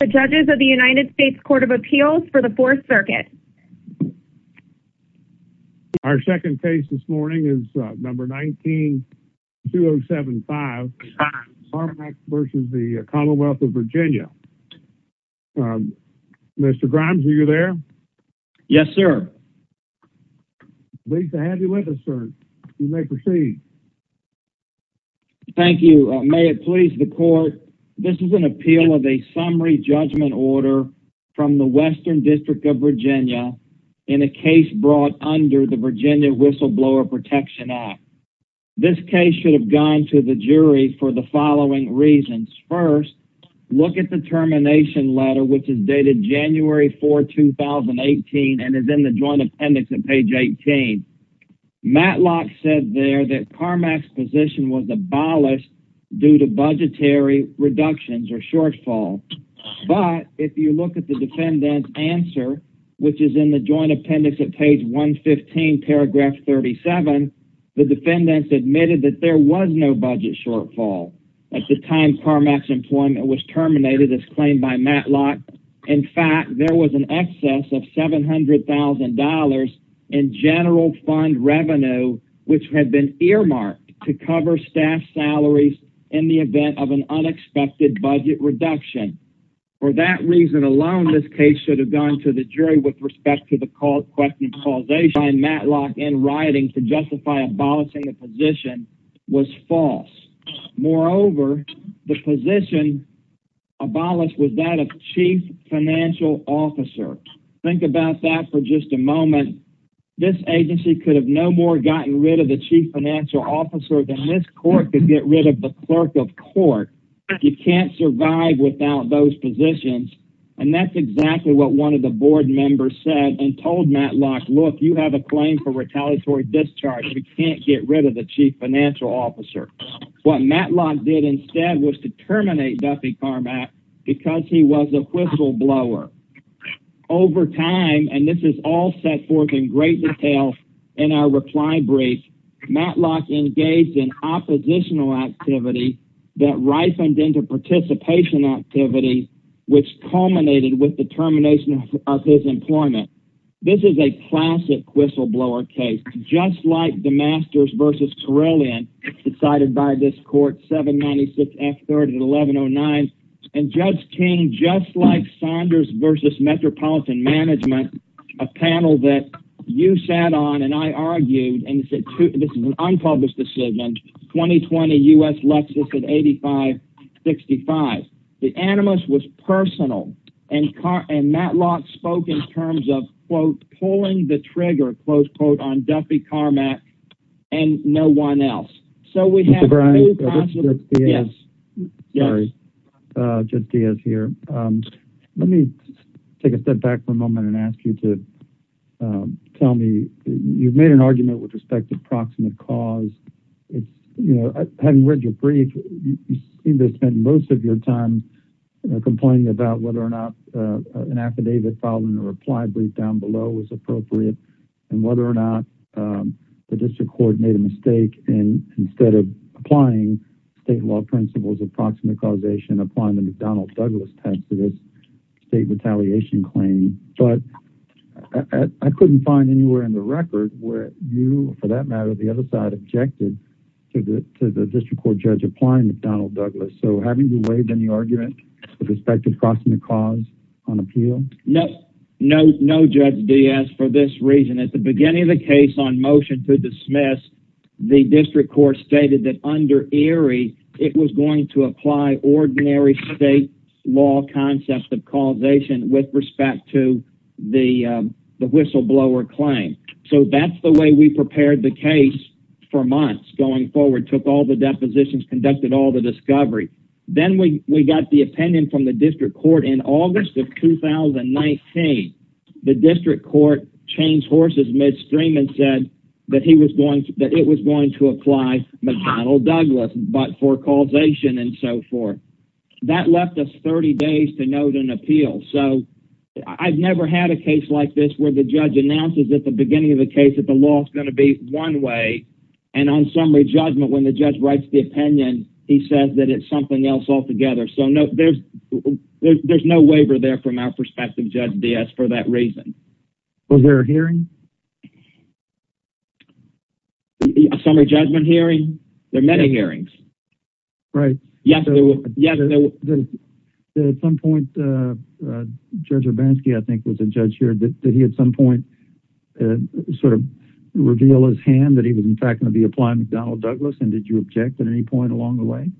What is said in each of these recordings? The judges of the United States Court of Appeals for the Fourth Circuit. Our second case this morning is number 19-2075, Carmack v. the Commonwealth of Virginia. Mr. Grimes, are you there? Yes, sir. Lisa, have you with us, sir? You may proceed. Thank you. May it please the court, this is an appeal of a summary judgment order from the Western District of Virginia in a case brought under the Virginia Whistleblower Protection Act. This case should have gone to the jury for the following reasons. First, look at the termination letter which is dated January 4, 2018 and is in the joint appendix on page 18. Matlock said there that Carmack's position was abolished due to budgetary reductions or shortfall. But if you look at the defendant's answer which is in the joint appendix at page 115, paragraph 37, the defendants admitted that there was no budget shortfall at the time Carmack's employment was terminated as claimed by Matlock. In fact, there was an excess of $700,000 in general fund revenue which had been earmarked to cover staff salaries in the event of an unexpected budget reduction. For that reason alone, this case should have gone to the jury with respect to the question of causation by Matlock in writing to justify abolishing a position was false. Moreover, the position abolished was that of chief financial officer. Think about that for a moment. This agency could have no more gotten rid of the chief financial officer than this court could get rid of the clerk of court. You can't survive without those positions. And that's exactly what one of the board members said and told Matlock, look, you have a claim for retaliatory discharge. You can't get rid of the chief financial officer. What Matlock did instead was to terminate Duffy Carmack because he was a whistleblower. Over time, and this is all set forth in great detail in our reply brief, Matlock engaged in oppositional activity that ripened into participation activity which culminated with the termination of his employment. This is a classic whistleblower case, just like the Masters versus Carillion decided by this court 796 F third at 1109. And Judge King, just like Saunders versus Metropolitan Management, a panel that you sat on and I argued, and this is an unpublished decision, 2020 US Lexus at 8565. The animus was personal and Matlock spoke in terms of, quote, pulling the trigger, close quote, on Duffy Carmack and no one else. So we have- Mr. Browning, Judge Diaz here. Let me take a step back for a moment and ask you to tell me, you've made an argument with respect to proximate cause. Having read your brief, you seem to have spent most of your time complaining about whether or not an affidavit filed in a reply brief down below was appropriate and whether or not the district court made a mistake in, instead of applying state law principles of proximate causation, applying the McDonnell Douglas test for this state retaliation claim. But I couldn't find anywhere in the record where you, for that matter, the other side objected to the district court judge McDonnell Douglas. So having you waived any argument with respect to proximate cause on appeal? No, no, no Judge Diaz for this reason. At the beginning of the case on motion to dismiss, the district court stated that under Erie, it was going to apply ordinary state law concept of causation with respect to the whistleblower claim. So that's the way we prepared the case for months going forward, took all the depositions, conducted all the discovery. Then we got the opinion from the district court in August of 2019. The district court changed horses midstream and said that he was going to, that it was going to apply McDonnell Douglas, but for causation and so forth. That left us 30 days to note an appeal. So I've never had a case like this where the judge announces at the beginning of the case, the law is going to be one way. And on summary judgment, when the judge writes the opinion, he says that it's something else altogether. So no, there's, there's no waiver there from our perspective, Judge Diaz for that reason. Was there a hearing? A summary judgment hearing? There are many hearings. Right. At some point, Judge Urbanski, I think was a judge here that he had some point and sort of reveal his hand that he was in fact going to be applying McDonnell Douglas. And did you object at any point along the way?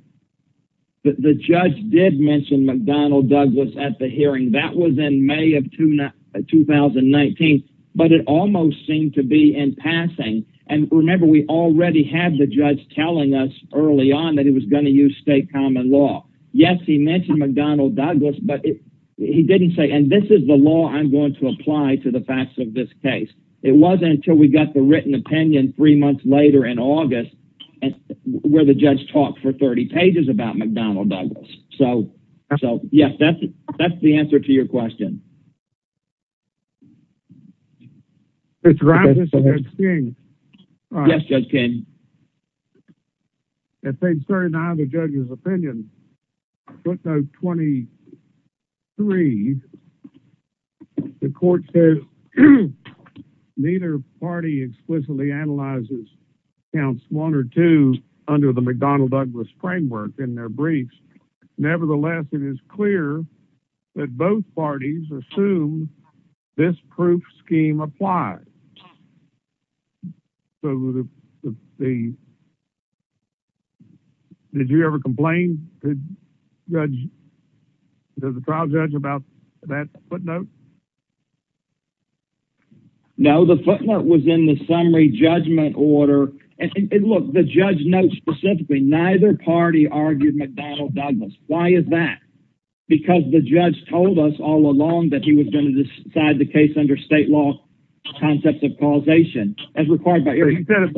The judge did mention McDonnell Douglas at the hearing that was in May of 2019, but it almost seemed to be in passing. And remember, we already had the judge telling us early on that he was going to use state common law. Yes, he mentioned McDonnell Douglas, but he didn't say, and this is the law I'm going to apply to the facts of this case. It wasn't until we got the written opinion three months later in August, where the judge talked for 30 pages about McDonnell Douglas. So, yes, that's the answer to your question. Yes, Judge King. At page 39 of the judge's opinion, footnote 23, the court says neither party explicitly analyzes counts one or two under the McDonnell Douglas framework in their briefs. Nevertheless, it is clear that both parties assume this proof scheme applies. So, did you ever complain to the trial judge about that footnote? No, the footnote was in the summary judgment order. And look, the judge notes specifically neither party argued McDonnell Douglas. Why is that? Because the judge told us all along that he was going to decide the case under state law concepts of causation. He said it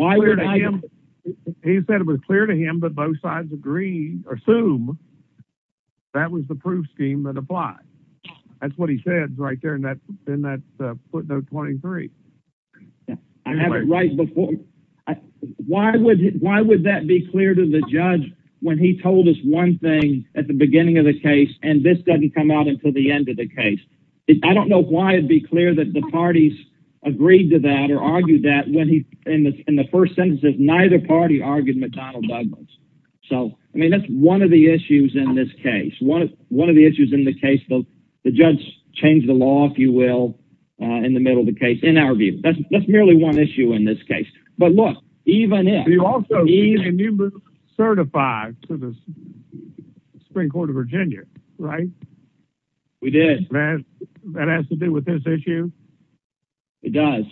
was clear to him that both sides assume that was the proof scheme that applied. That's what he said right there in that footnote 23. I have it right before. Why would that be clear to the judge when he told us one thing at the beginning of the case and this doesn't come out until the end of the case? I don't know why it'd be clear that the parties agreed to that or argued that when he, in the first sentence, said neither party argued McDonnell Douglas. So, I mean, that's one of the issues in this case. One of the issues in the case though, the judge changed the law, if you will, in the middle of the case, in our view. That's merely one issue in this case. But look, even if... You also certified to the Supreme Court of Virginia, right? We did. That has to do with this issue? It does.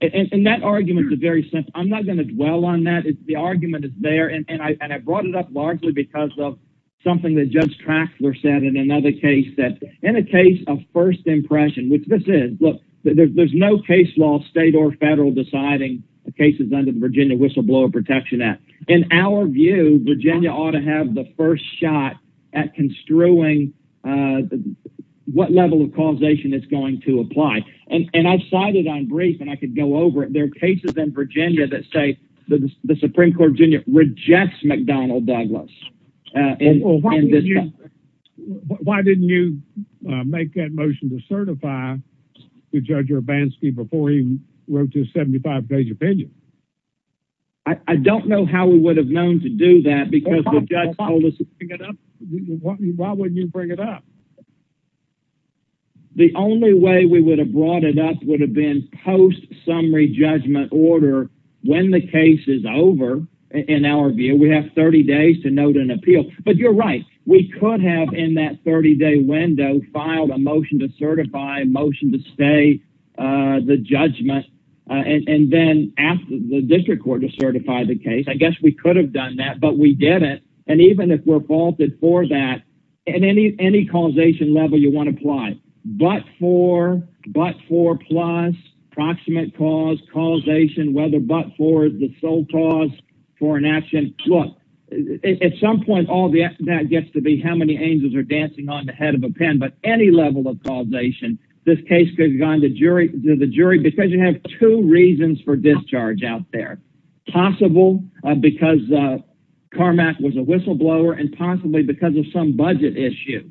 And that argument is very simple. I'm not going to dwell on that. The argument is there and I brought it up largely because of something that Judge Traxler said in another case. In a case of first impression, which this is, look, there's no case law, state or federal, deciding the cases under the Virginia Whistleblower Protection Act. In our view, Virginia ought to have the first shot at construing what level of causation is going to apply. And I've cited on brief and I could go over it. There are cases in Virginia that say the Supreme Court of Virginia rejects McDonnell Douglas. Why didn't you make that motion to certify to Judge Urbanski before he gave his 75-page opinion? I don't know how we would have known to do that because the judge told us to bring it up. Why wouldn't you bring it up? The only way we would have brought it up would have been post-summary judgment order. When the case is over, in our view, we have 30 days to note an appeal. But you're right. We could have, in that 30-day window, filed a motion to certify, a motion to stay the judgment, and then asked the district court to certify the case. I guess we could have done that, but we didn't. And even if we're faulted for that, any causation level you want to apply, but for, but for plus, approximate cause, causation, whether but for the sole cause for an action. Look, at some point, all that gets to be how many angels are dancing on the head of a pen, but any level of causation, this case could have gone to the jury because you have two reasons for discharge out there. Possible because Carmack was a whistleblower and possibly because of some budget issue.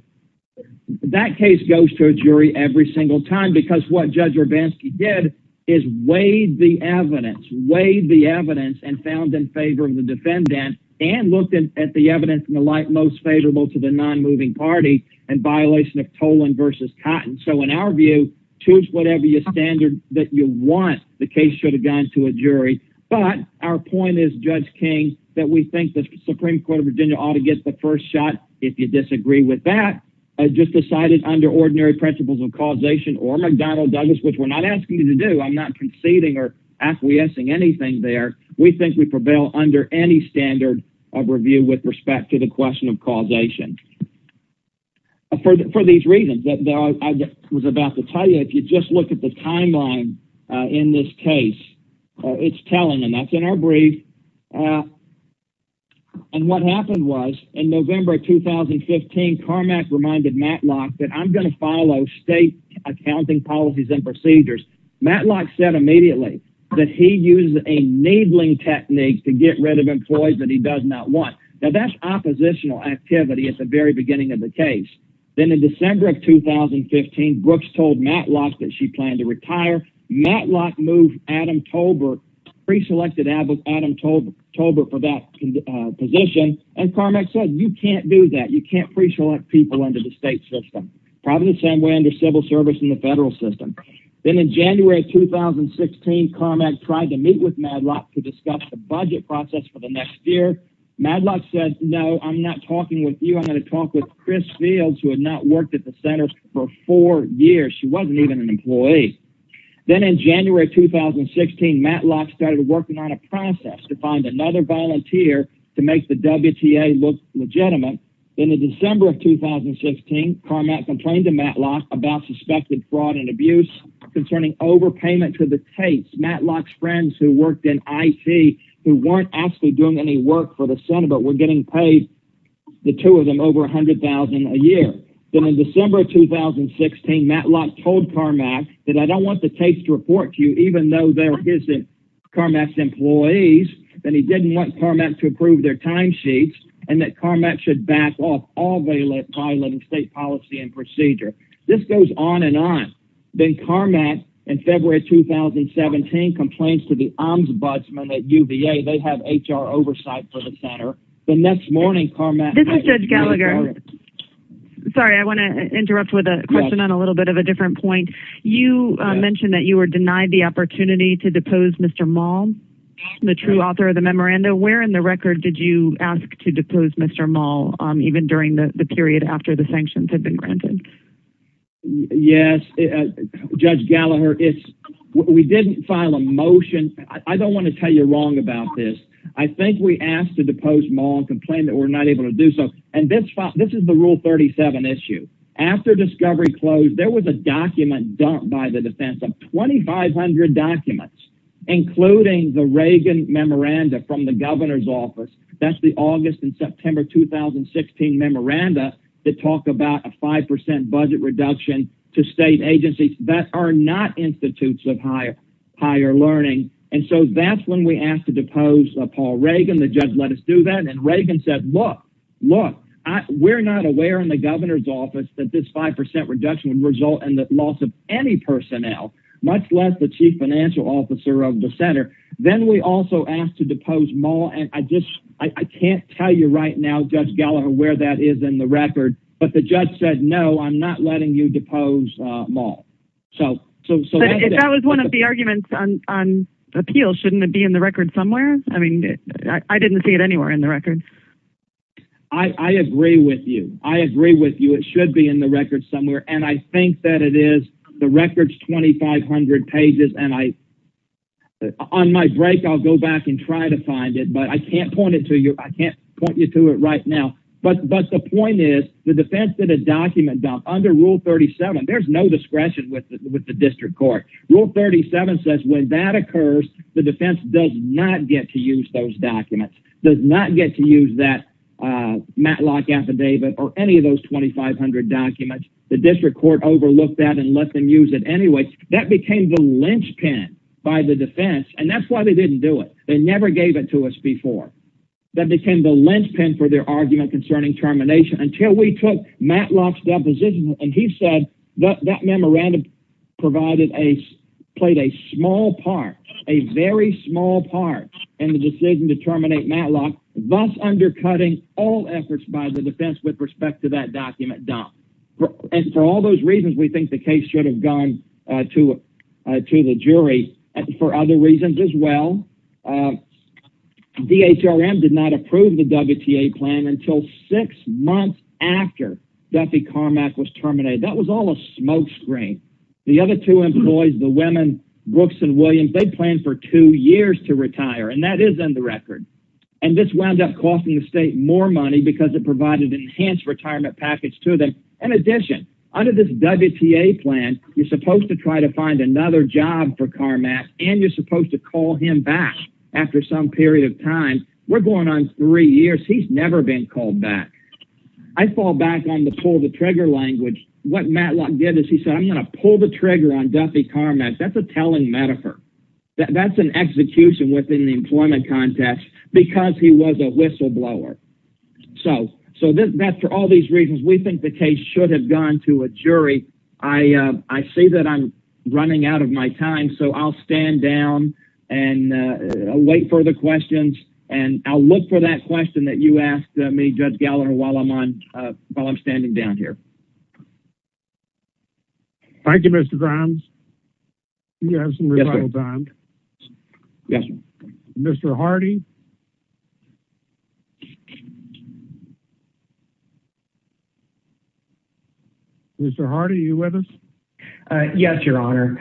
That case goes to a jury every single time because what Judge Urbanski did is weighed the evidence, weighed the evidence and in favor of the defendant and looked at the evidence in the light most favorable to the non-moving party and violation of Tolan versus Cotton. So in our view, choose whatever your standard that you want, the case should have gone to a jury. But our point is Judge King, that we think the Supreme Court of Virginia ought to get the first shot. If you disagree with that, I just decided under ordinary principles of causation or McDonnell Douglas, which we're asking you to do. I'm not conceding or acquiescing anything there. We think we prevail under any standard of review with respect to the question of causation. For these reasons that I was about to tell you, if you just look at the timeline in this case, it's telling and that's in our brief. And what happened was in November 2015, Carmack reminded Matlock that I'm going to state accounting policies and procedures. Matlock said immediately that he uses a needling technique to get rid of employees that he does not want. Now that's oppositional activity at the very beginning of the case. Then in December of 2015, Brooks told Matlock that she planned to retire. Matlock moved Adam Tolbert, pre-selected Adam Tolbert for that position. And Carmack said, you can't do that. You can't pre-select people into the state system. Probably the same way under civil service in the federal system. Then in January of 2016, Carmack tried to meet with Matlock to discuss the budget process for the next year. Matlock said, no, I'm not talking with you. I'm going to talk with Chris Fields, who had not worked at the center for four years. She wasn't even an employee. Then in January of 2016, Matlock started working on a process to find another volunteer to make the WTA look legitimate. Then in December of 2016, Carmack complained to Matlock about suspected fraud and abuse concerning overpayment to the case. Matlock's friends who worked in IT, who weren't actually doing any work for the center, but were getting paid, the two of them over a hundred thousand a year. Then in December of 2016, Matlock told Carmack that I don't want the case to report to you, even though there isn't Carmack's employees. Then he didn't want Carmack to approve their timesheets and that Carmack should back off all violating state policy and procedure. This goes on and on. Then Carmack, in February of 2017, complains to the Ombudsman at UVA. They have HR oversight for the center. The next morning, Carmack- This is Judge Gallagher. Sorry, I want to interrupt with a question on a little bit of a different point. You mentioned that you were denied the opportunity to depose Mr. Maul, the true author of the memoranda. Where in the record did you ask to depose Mr. Maul even during the period after the sanctions had been granted? Yes, Judge Gallagher, we didn't file a motion. I don't want to tell you wrong about this. I think we asked to depose Maul and complained that we're not able to do so. This is the Rule 37 issue. After discovery closed, there was a document dumped by the defense of 2,500 documents, including the Reagan memoranda from the governor's office. That's the August and September 2016 memoranda that talked about a 5% budget reduction to state agencies that are not institutes of higher learning. That's when we asked to depose Paul Reagan. The judge let us do that. Reagan said, look, we're not aware in the governor's office that this 5% reduction would the loss of any personnel, much less the chief financial officer of the center. Then we also asked to depose Maul. I can't tell you right now, Judge Gallagher, where that is in the record, but the judge said, no, I'm not letting you depose Maul. If that was one of the arguments on appeal, shouldn't it be in the record somewhere? I didn't see it anywhere in the the records, 2,500 pages. On my break, I'll go back and try to find it, but I can't point it to you. I can't point you to it right now. The point is the defense did a document dump under Rule 37. There's no discretion with the district court. Rule 37 says when that occurs, the defense does not get to use those documents, does not get to use that Matlock affidavit or any of those 2,500 documents. The district court overlooked that and let them use it anyway. That became the linchpin by the defense, and that's why they didn't do it. They never gave it to us before. That became the linchpin for their argument concerning termination until we took Matlock's deposition. He said that memorandum played a small part, a very small part, in the decision to terminate Matlock, thus undercutting all efforts by the defense with respect to that document dump. For all those reasons, we think the case should have gone to the jury. For other reasons as well, DHRM did not approve the WTA plan until six months after Duffy Carmack was terminated. That was all a smokescreen. The other two employees, the women, Brooks and Williams, they planned for two years to retire, and that is in the record. This wound up costing the state more money because it provided an enhanced retirement package to them. In addition, under this WTA plan, you're supposed to try to find another job for Carmack, and you're supposed to call him back after some period of time. We're going on three years. He's never been called back. I fall back on the pull the trigger language. What Matlock did is he said, I'm going to pull the trigger on Duffy Carmack. That's a telling metaphor. That's an execution within the employment context, because he was a whistleblower. For all these reasons, we think the case should have gone to a jury. I see that I'm running out of my time, so I'll stand down and wait for the questions. I'll look for that question that you asked me, Judge Gallagher, while I'm standing down here. Thank you, Mr. Grimes. Do you have some rebuttal time? Yes, sir. Mr. Hardy? Mr. Hardy, are you with us? Yes, Your Honor.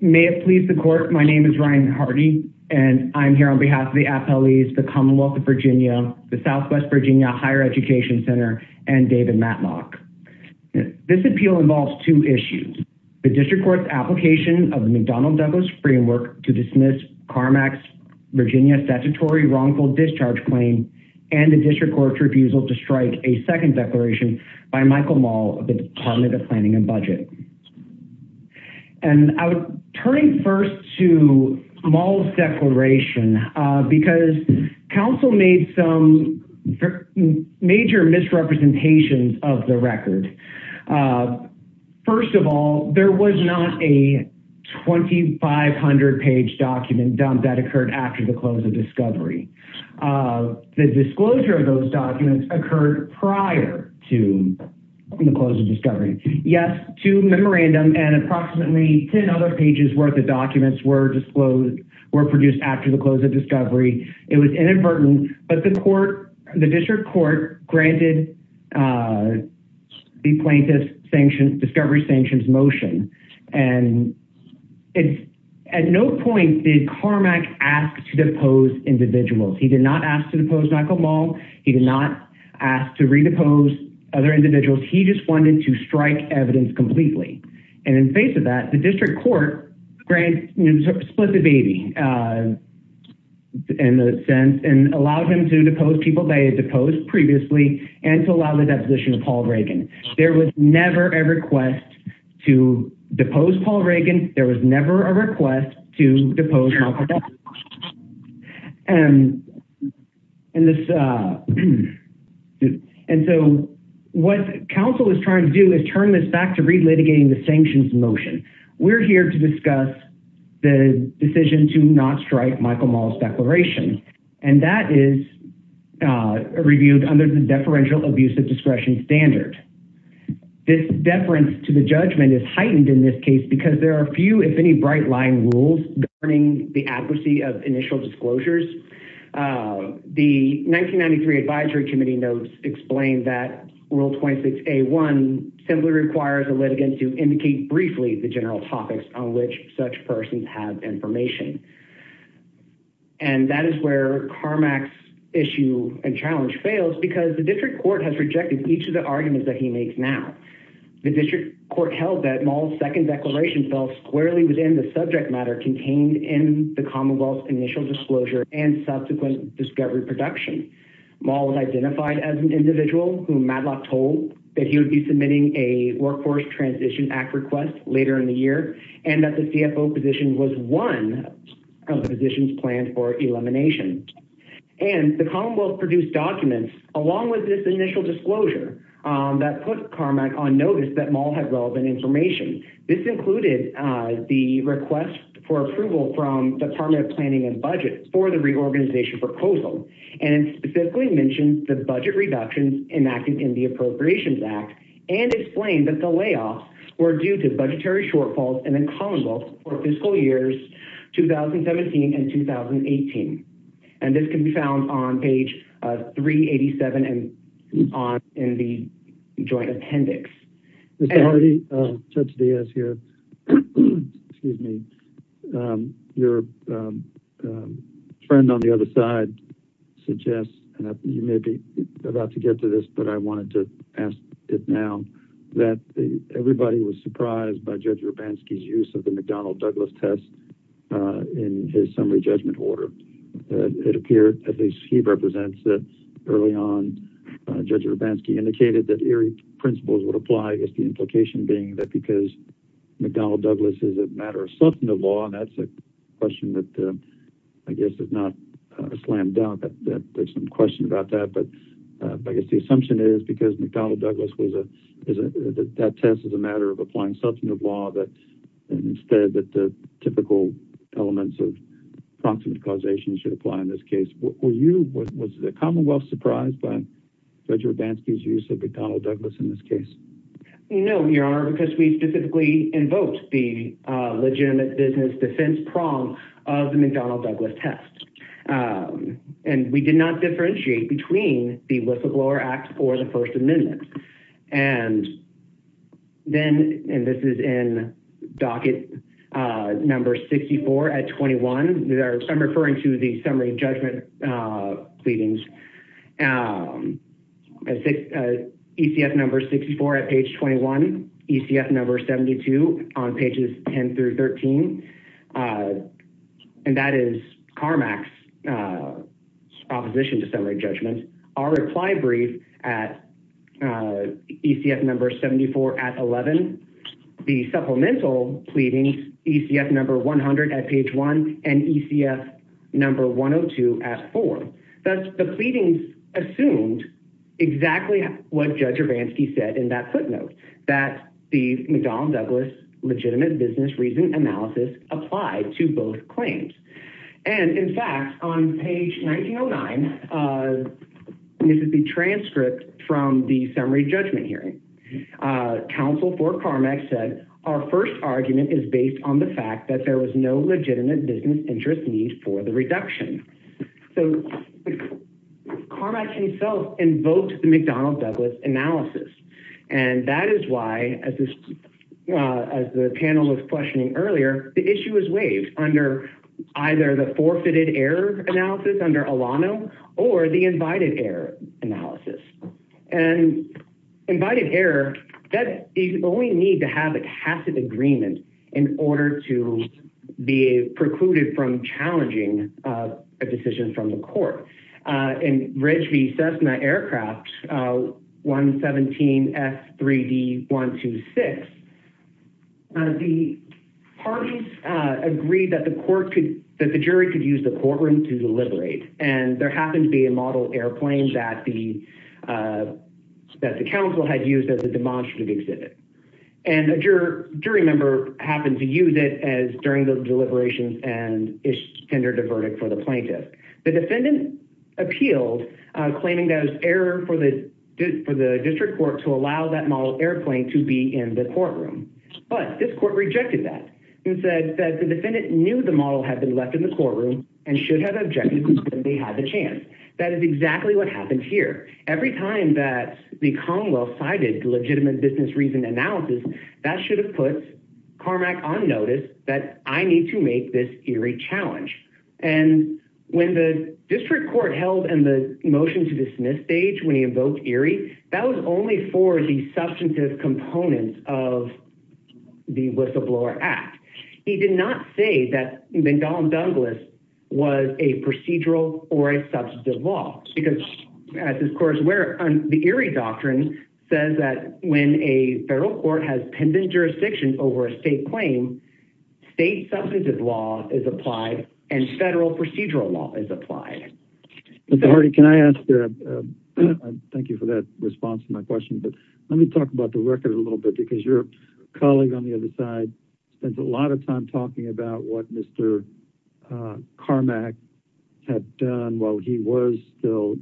May it please the court, my name is Ryan Hardy, and I'm here on behalf of the FLEs, the Commonwealth of Virginia, the Southwest Virginia Higher Education Center, and David Matlock. This appeal involves two applications of the McDonald-Douglas framework to dismiss Carmack's Virginia statutory wrongful discharge claim and a district court refusal to strike a second declaration by Michael Maul of the Department of Planning and Budget. Turning first to Maul's declaration, because a 2,500-page document dumped that occurred after the close of discovery, the disclosure of those documents occurred prior to the close of discovery. Yes, two memorandums and approximately 10 other pages worth of documents were produced after the close of discovery. It was inadvertent, but the district court granted the plaintiff's discovery sanctions and at no point did Carmack ask to depose individuals. He did not ask to depose Michael Maul. He did not ask to redepose other individuals. He just wanted to strike evidence completely, and in face of that, the district court split the baby in a sense and allowed him to depose people they had deposed previously and to allow the deposition of Paul Reagan. There was never a request to depose Paul Reagan. There was never a request to depose Michael Maul. What counsel is trying to do is turn this back to relitigating the sanctions motion. We're here to discuss the decision to not strike Michael Maul's declaration, and that is reviewed under the deferential abuse of discretion standard. This deference to the judgment is heightened in this case because there are few, if any, bright-line rules governing the adequacy of initial disclosures. The 1993 advisory committee notes explain that Rule 26A1 simply requires a litigant to indicate briefly the general topics on which such persons have information, and that is where Carmack's challenge fails because the district court has rejected each of the arguments that he makes now. The district court held that Maul's second declaration fell squarely within the subject matter contained in the commonwealth's initial disclosure and subsequent discovery production. Maul was identified as an individual whom Madlock told that he would be submitting a workforce transition act request later in the year, and that the CFO position was one of the positions planned for elimination. The commonwealth produced documents along with this initial disclosure that put Carmack on notice that Maul had relevant information. This included the request for approval from the department of planning and budget for the reorganization proposal, and specifically mentioned the budget reductions enacted in the appropriations act, and explained that the layoffs were due to budgetary shortfalls in the commonwealth for fiscal years 2017 and 2018, and this can be found on page 387 in the joint appendix. Mr. Hardy, Judge Diaz here. Excuse me. Your friend on the other side suggests, and you may be about to get to this, but I wanted to ask it now, that everybody was surprised by Judge Hrabanski's use of the McDonnell-Douglas test in his summary judgment order. It appeared, at least he represents, that early on Judge Hrabanski indicated that eerie principles would apply, I guess the implication being that because McDonnell-Douglas is a matter of substantive law, and that's a question that I guess is not slammed down, that there's some question about that, but I guess the assumption is because McDonnell-Douglas was a, that test is a matter of applying substantive law, that instead that the typical elements of proximate causation should apply in this case. Were you, was the commonwealth surprised by Judge Hrabanski's use of McDonnell-Douglas in this case? No, your honor, because we specifically invoked the legitimate business defense prong of the not differentiate between the whistleblower act or the first amendment. And then, and this is in docket number 64 at 21, I'm referring to the summary judgment pleadings, ECF number 64 at page 21, ECF number 72 on pages 10 through 13, uh, and that is Carmack's, uh, opposition to summary judgment. Our reply brief at, uh, ECF number 74 at 11, the supplemental pleading ECF number 100 at page one and ECF number 102 at four. That's the pleadings assumed exactly what Judge Hrabanski said in that footnote that the McDonnell-Douglas legitimate business reason analysis applied to both claims. And in fact, on page 1909, uh, this is the transcript from the summary judgment hearing, uh, counsel for Carmack said, our first argument is based on the fact that there was no legitimate business interest needs for the reduction. So Carmack himself invoked the McDonnell-Douglas analysis. And that is why as this, uh, as the panel was questioning earlier, the issue is waived under either the forfeited error analysis under Alano or the invited error analysis and invited error that you only need to have a tacit agreement in order to be precluded from F3D126. The parties, uh, agreed that the court could, that the jury could use the courtroom to deliberate. And there happened to be a model airplane that the, uh, that the council had used as a demonstrative exhibit. And a juror, jury member happened to use it as during the deliberations and it's tendered a verdict for the plaintiff. The defendant appealed, uh, claiming that it was error for the, for the district court to allow that model airplane to be in the courtroom. But this court rejected that and said that the defendant knew the model had been left in the courtroom and should have objected when they had the chance. That is exactly what happened here. Every time that the Commonwealth cited legitimate business reason analysis, that should have put Carmack on notice that I need to make this eerie challenge. And when the district court held and the motion to dismiss stage, when he invoked Erie, that was only for the substantive components of the whistleblower act. He did not say that the Don Douglas was a procedural or a substantive law because at this course where the Erie doctrine says that when a federal court has pending jurisdiction over a state claim, state substantive law is applied and federal procedural law is applied. Can I ask you, thank you for that response to my question, but let me talk about the record a little bit because your colleague on the other side spends a lot of time talking about what Mr. Carmack had done while he was still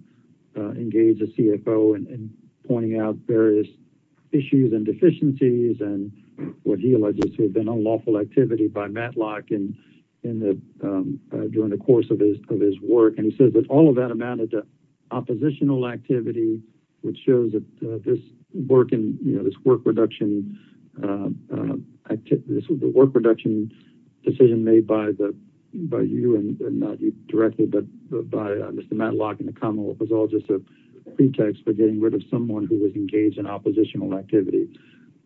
engaged the CFO and pointing out various issues and deficiencies and what he alleged to have been unlawful activity by Matlock during the course of his work. And he says that all of that amounted to oppositional activity, which shows that this work production decision made by you and not you directly, but by Mr. Matlock and the Commonwealth was all just a pretext for getting rid of someone who was engaged in oppositional activity.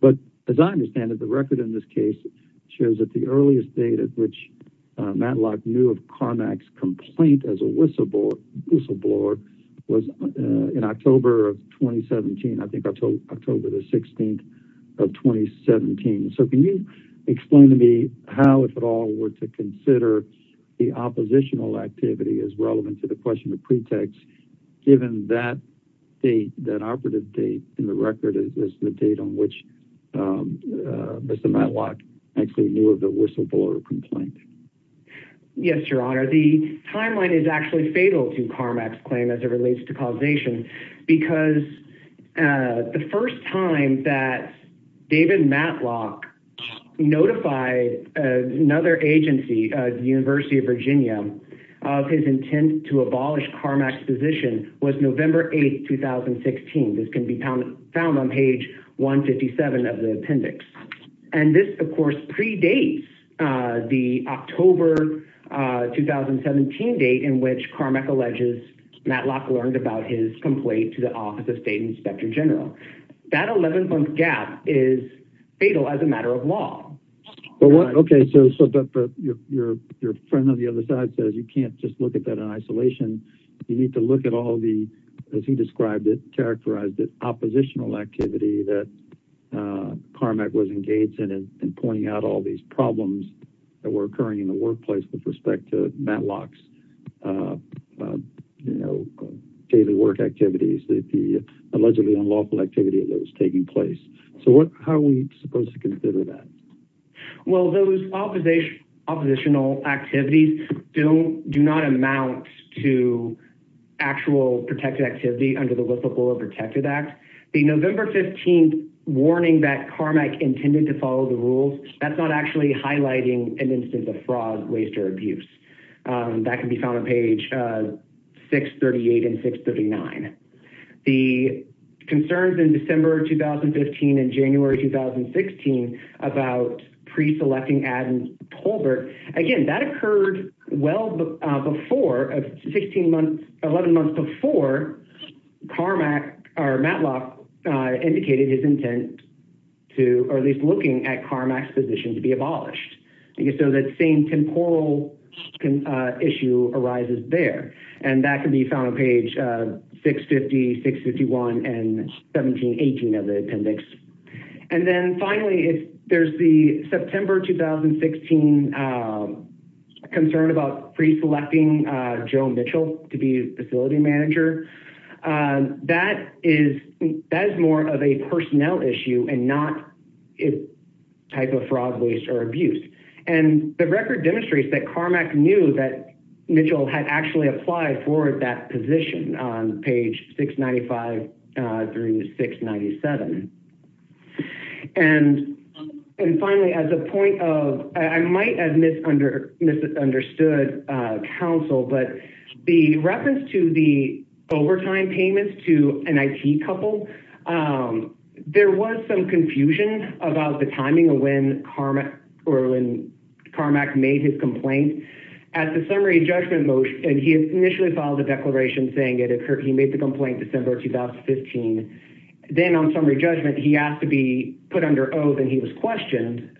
But as I understand it, the record in this case shows that the earliest date at which Matlock knew of Carmack's complaint as a whistleblower was in October of 2017. I think October the 16th of 2017. So can you explain to me how, if at all, were to consider the oppositional activity as relevant to the question of pretext, given that date, that operative date in the record is the date on which Mr. Matlock actually knew of the whistleblower complaint? Yes, Your Honor. The timeline is actually fatal to Carmack's claim as it relates to causation because the first time that David Matlock notified another agency, the University of Virginia, of his intent to abolish Carmack's position was November 8, 2016. This can be found on page 157 of the appendix. And this, of course, predates the October 2017 date in which Carmack alleges Matlock learned about his complaint to the Office of State Inspector General. That 11-month gap is fatal as a matter of law. Okay, so your friend on the other side says you can't just look at that in isolation. You need to look at all the, as he described it, characterized it, oppositional activity that Carmack was engaged in and pointing out all these problems that were occurring in the workplace with respect to Matlock's daily work activities, the allegedly unlawful activity that was taking place. So how are we supposed to consider that? Well, those oppositional activities do not amount to actual protected activity under the Whistleblower Protected Act. The November 15th warning that Carmack intended to follow the rules, that's not actually highlighting an instance of fraud, waste, or abuse. That can be found on page 638 and 639. The concerns in December 2015 and January 2016 about pre-selecting Adam Tolbert, again, that occurred well before, 16 months, 11 months before, Carmack or Matlock indicated his intent to, or at least looking at Carmack's position to be abolished. I guess so that same temporal issue arises there. And that can be found on page 650, 651, and 1718 of the appendix. And then finally, there's the September 2016 concern about pre-selecting Joe Mitchell to be facility manager. That is more of a personnel issue and not a type of fraud, waste, or abuse. And the record demonstrates that Carmack knew that Mitchell had actually applied for that position on page 695 through 697. And finally, as a point of, I might have misunderstood counsel, but the reference to the overtime payments to an IT couple, there was some confusion about the timing of when or when Carmack made his complaint. At the summary judgment motion, and he initially filed a declaration saying it occurred, he made the complaint December 2015. Then on summary judgment, he asked to be put under oath and he was questioned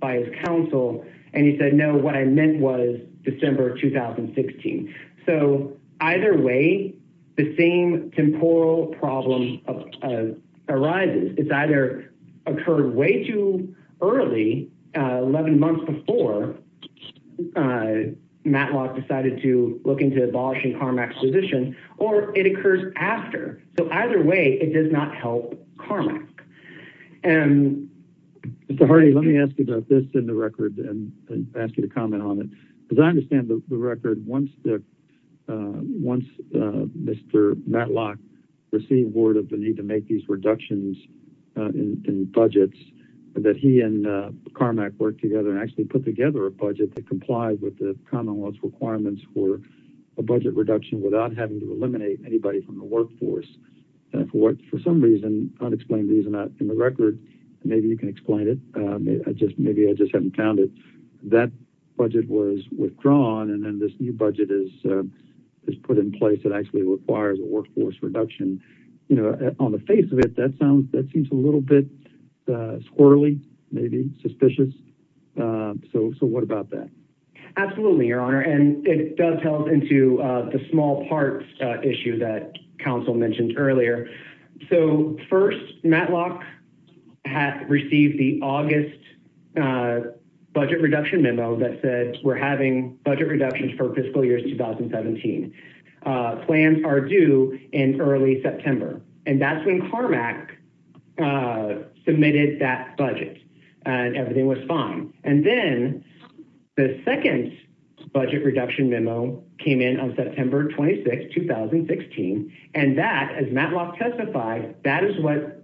by his counsel. And he said, no, what I meant was December 2016. So either way, the same temporal problem arises. It's either occurred way too early, 11 months before Matlock decided to look into abolishing Carmack's position, or it occurs after. So either way, it does not help Carmack. And Mr. Hardy, let me ask you about this in the record and ask you to comment on it. Because I understand the record, once Mr. Matlock received word of the need to make these reductions in budgets, that he and Carmack worked together and actually put together a budget that complies with the commonwealth's requirements for a budget reduction without having to eliminate anybody from the workforce. For some reason, unexplained reason not in the record, maybe you can explain it. Maybe I just haven't found it. That budget was withdrawn. And then this new budget is put in place that actually requires a workforce reduction. On the face of it, that seems a little bit squirrely, maybe suspicious. So what about that? Absolutely, your honor. And it does help into the small parts issue that counsel mentioned earlier. So first, Matlock received the August budget reduction memo that said we're having budget reductions for fiscal year 2017. Plans are due in early September. And that's when Carmack submitted that budget. And everything was fine. And then the second budget reduction memo came in on September 26, 2016. And that, as Matlock testified, that is what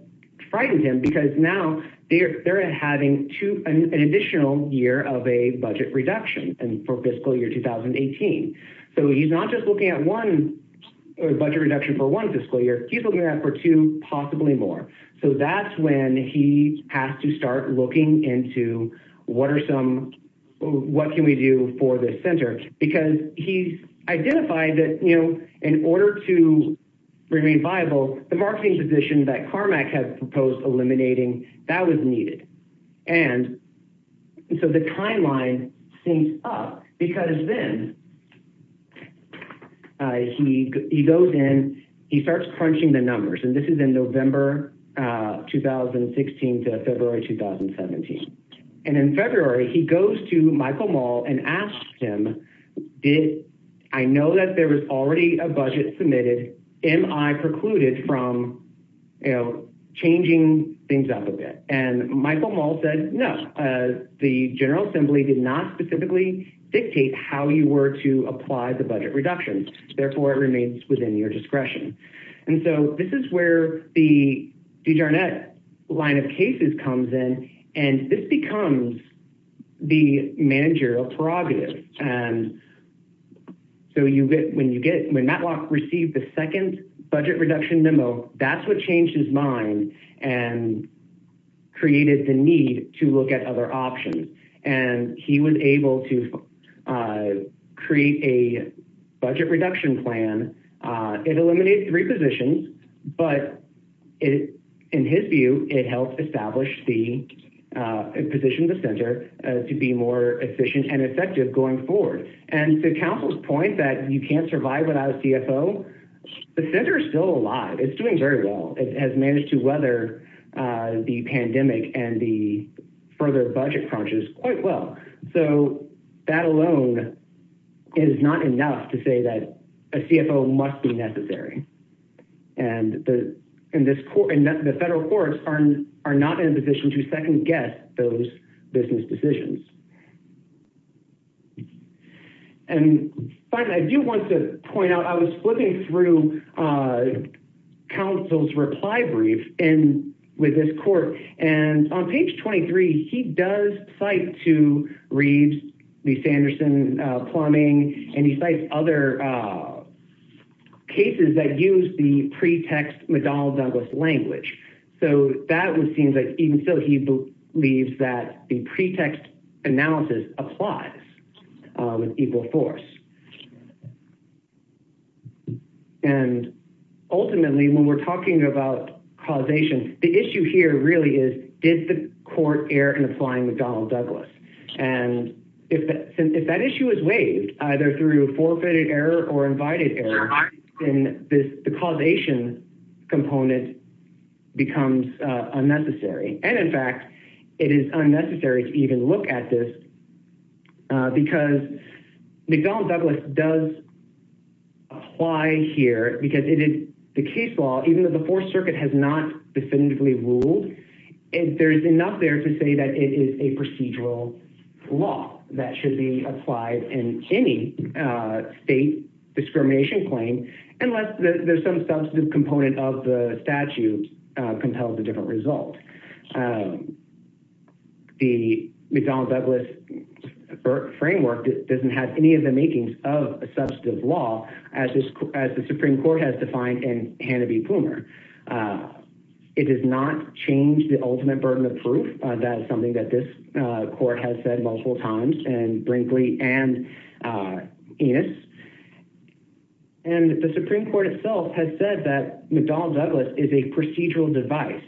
frightened him. Because now they're having an additional year of a budget reduction for fiscal year 2018. So he's not just looking at one budget reduction for one fiscal year, he's looking at for two, possibly more. So that's when he has to start looking into what are some, what can we do for the center? Because he's identified that, you know, in order to remain viable, the marketing position that Carmack has proposed eliminating, that was needed. And so the timeline syncs up. Because then he goes in, he starts crunching the numbers. And this is in November 2016 to February 2017. And in February, he goes to Michael Maul and asks him, did, I know that there was already a budget submitted, am I precluded from, you know, changing things up a bit? And Michael Maul said, no, the General Assembly did not specifically dictate how you were to apply the budget reductions. Therefore, it remains within your discretion. And so this is where the D.J. Arnett line of cases comes in. And this becomes the managerial prerogative. And so you get, when you get, when Matlock received the second budget reduction memo, that's what changed his mind. And created the need to look at other options. And he was able to create a budget reduction plan. It eliminated three positions. But in his view, it helped establish the position of the center to be more efficient and effective going forward. And to Council's point that you can't survive without a CFO, the center is still alive. It's doing very well. It has managed to weather the pandemic and the further budget crunches quite well. So that alone is not enough to say that a CFO must be necessary. And the federal courts are not in a position to second guess those business decisions. And finally, I do want to point out, I was flipping through Council's reply brief with this court. And on page 23, he does cite to Reed, the Sanderson plumbing, and he cites other cases that use the pretext McDonnell Douglas language. So that would seem like even though he believes that the pretext is not the right one, he announces applies with equal force. And ultimately, when we're talking about causation, the issue here really is did the court err in applying McDonnell Douglas? And if that issue is waived, either through forfeited error or invited error, then the causation component becomes unnecessary. And in fact, it is unnecessary to even look at this because McDonnell Douglas does apply here because the case law, even though the Fourth Circuit has not definitively ruled, there's enough there to say that it is a procedural law that should be applied in any state discrimination claim unless there's some substantive component of the statute compels a different result. And the McDonnell Douglas framework doesn't have any of the makings of a substantive law as the Supreme Court has defined in Hanna v. Plumer. It does not change the ultimate burden of proof. That is something that this court has said multiple times in Brinkley and Enos. And the Supreme Court itself has said that McDonnell Douglas is a procedural device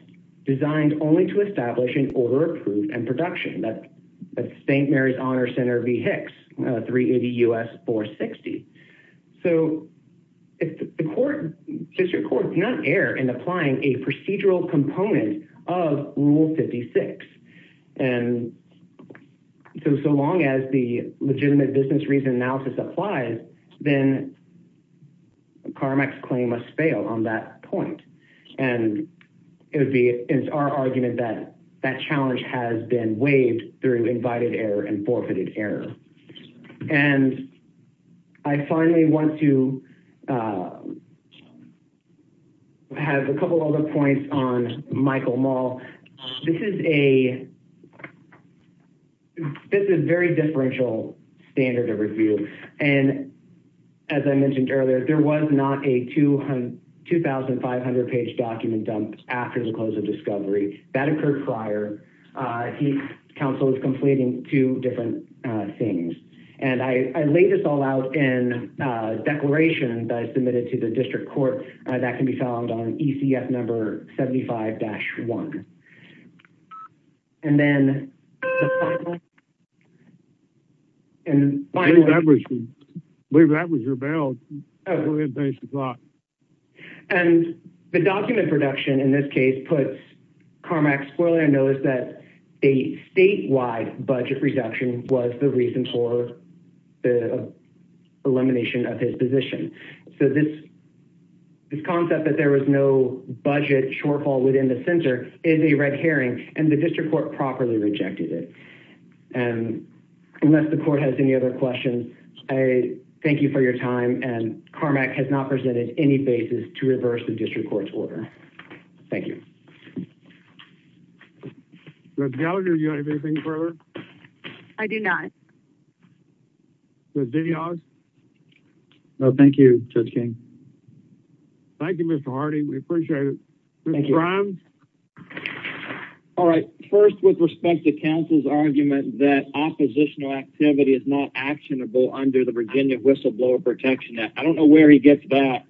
designed only to establish an order of proof and production. That's St. Mary's Honor Center v. Hicks, 380 U.S. 460. So if the court, district court, does not err in applying a procedural component of Rule 56, and so long as the legitimate business reason analysis applies, then Carmack's claim must fail on that point. And it's our argument that that challenge has been waived through invited error and forfeited error. And I finally want to have a couple other points on Michael Maul. This is a very differential standard of review. And as I mentioned earlier, there was not a 2,500-page document dumped after the close of discovery. That occurred prior. Hicks Council is completing two different things. And I laid this all out in a declaration that I submitted to the district court that can be found on ECF number 75-1. And then the final point, and the final point, and the document production, in this case, puts Carmack, spoiler alert, knows that a statewide budget reduction was the reason for the elimination of his position. So this concept that there was no budget shortfall within the center is a red herring, and the district court properly rejected it. And unless the court has any other questions, I thank you for your time. And Carmack has not presented any basis to reverse the district court's order. Thank you. Mr. Gallagher, do you have anything further? I do not. Mr. DeHaas? No, thank you, Judge King. Thank you, Mr. Harding. We appreciate it. Mr. Grimes? All right. First, with respect to counsel's argument that oppositional activity is not actionable under the Virginia Whistleblower Protection Act. I don't know where he gets that,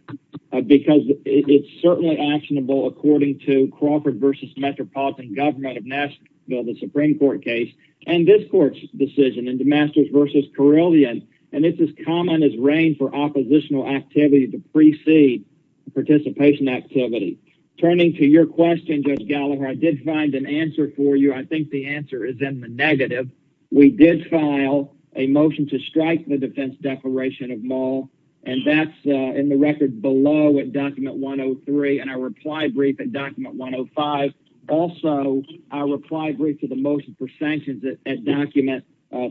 because it's certainly actionable according to Crawford v. Metropolitan Government of Nashville, the Supreme Court case. And this court's decision in DeMasters v. Carillion, and it's as common as rain for oppositional activity to precede participation activity. Turning to your question, Judge Gallagher, I did find an answer for you. I think the answer is in the negative. We did file a motion to strike the defense declaration of Mull, and that's in the record below at document 103, and our reply brief at document 105. Also, our reply brief to the motion for sanctions at document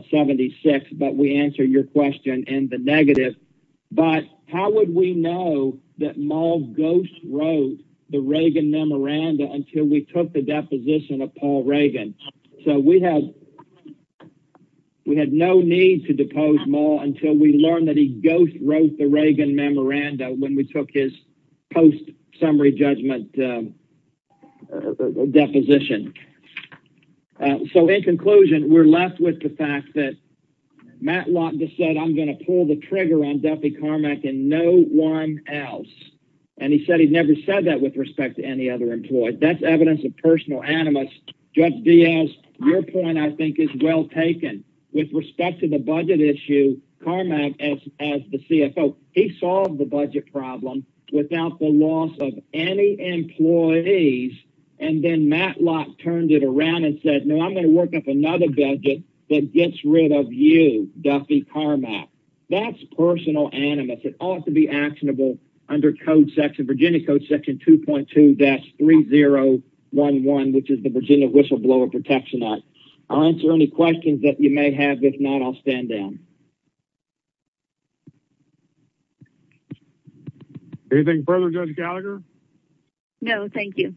76, but we answer your question in the negative. But how would we know that Mull ghost wrote the Reagan memoranda until we took the deposition of Paul Reagan? So we had no need to depose Mull until we learned that he ghost wrote the Reagan memoranda when we took his post-summary judgment deposition. So, in conclusion, we're left with the fact that Matt Watkins said, I'm going to pull the trigger on Duffy Carmack and no one else. And he said he's never said that with respect to any other employee. That's evidence of personal animus. Judge Diaz, your point, I think, is well taken. With respect to the budget issue, Carmack, as the CFO, he solved the budget problem without the loss of any employees, and then Matlock turned it around and said, no, I'm going to work up another budget that gets rid of you, Duffy Carmack. That's personal animus. It ought to be actionable under Virginia Code Section 2.2-3011, which is the Virginia Whistleblower Protection Act. I'll answer any questions that you may have. If not, I'll stand down. Anything further, Judge Gallagher? No, thank you.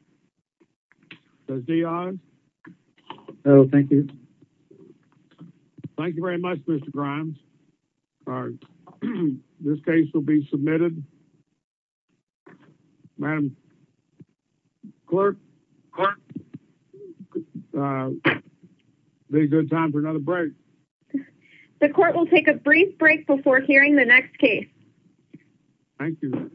Judge Diaz? No, thank you. Thank you very much, Mr. Grimes. This case will be submitted. Madam Clerk, it would be a good time for another break. The court will take a brief break before hearing the next case. Thank you.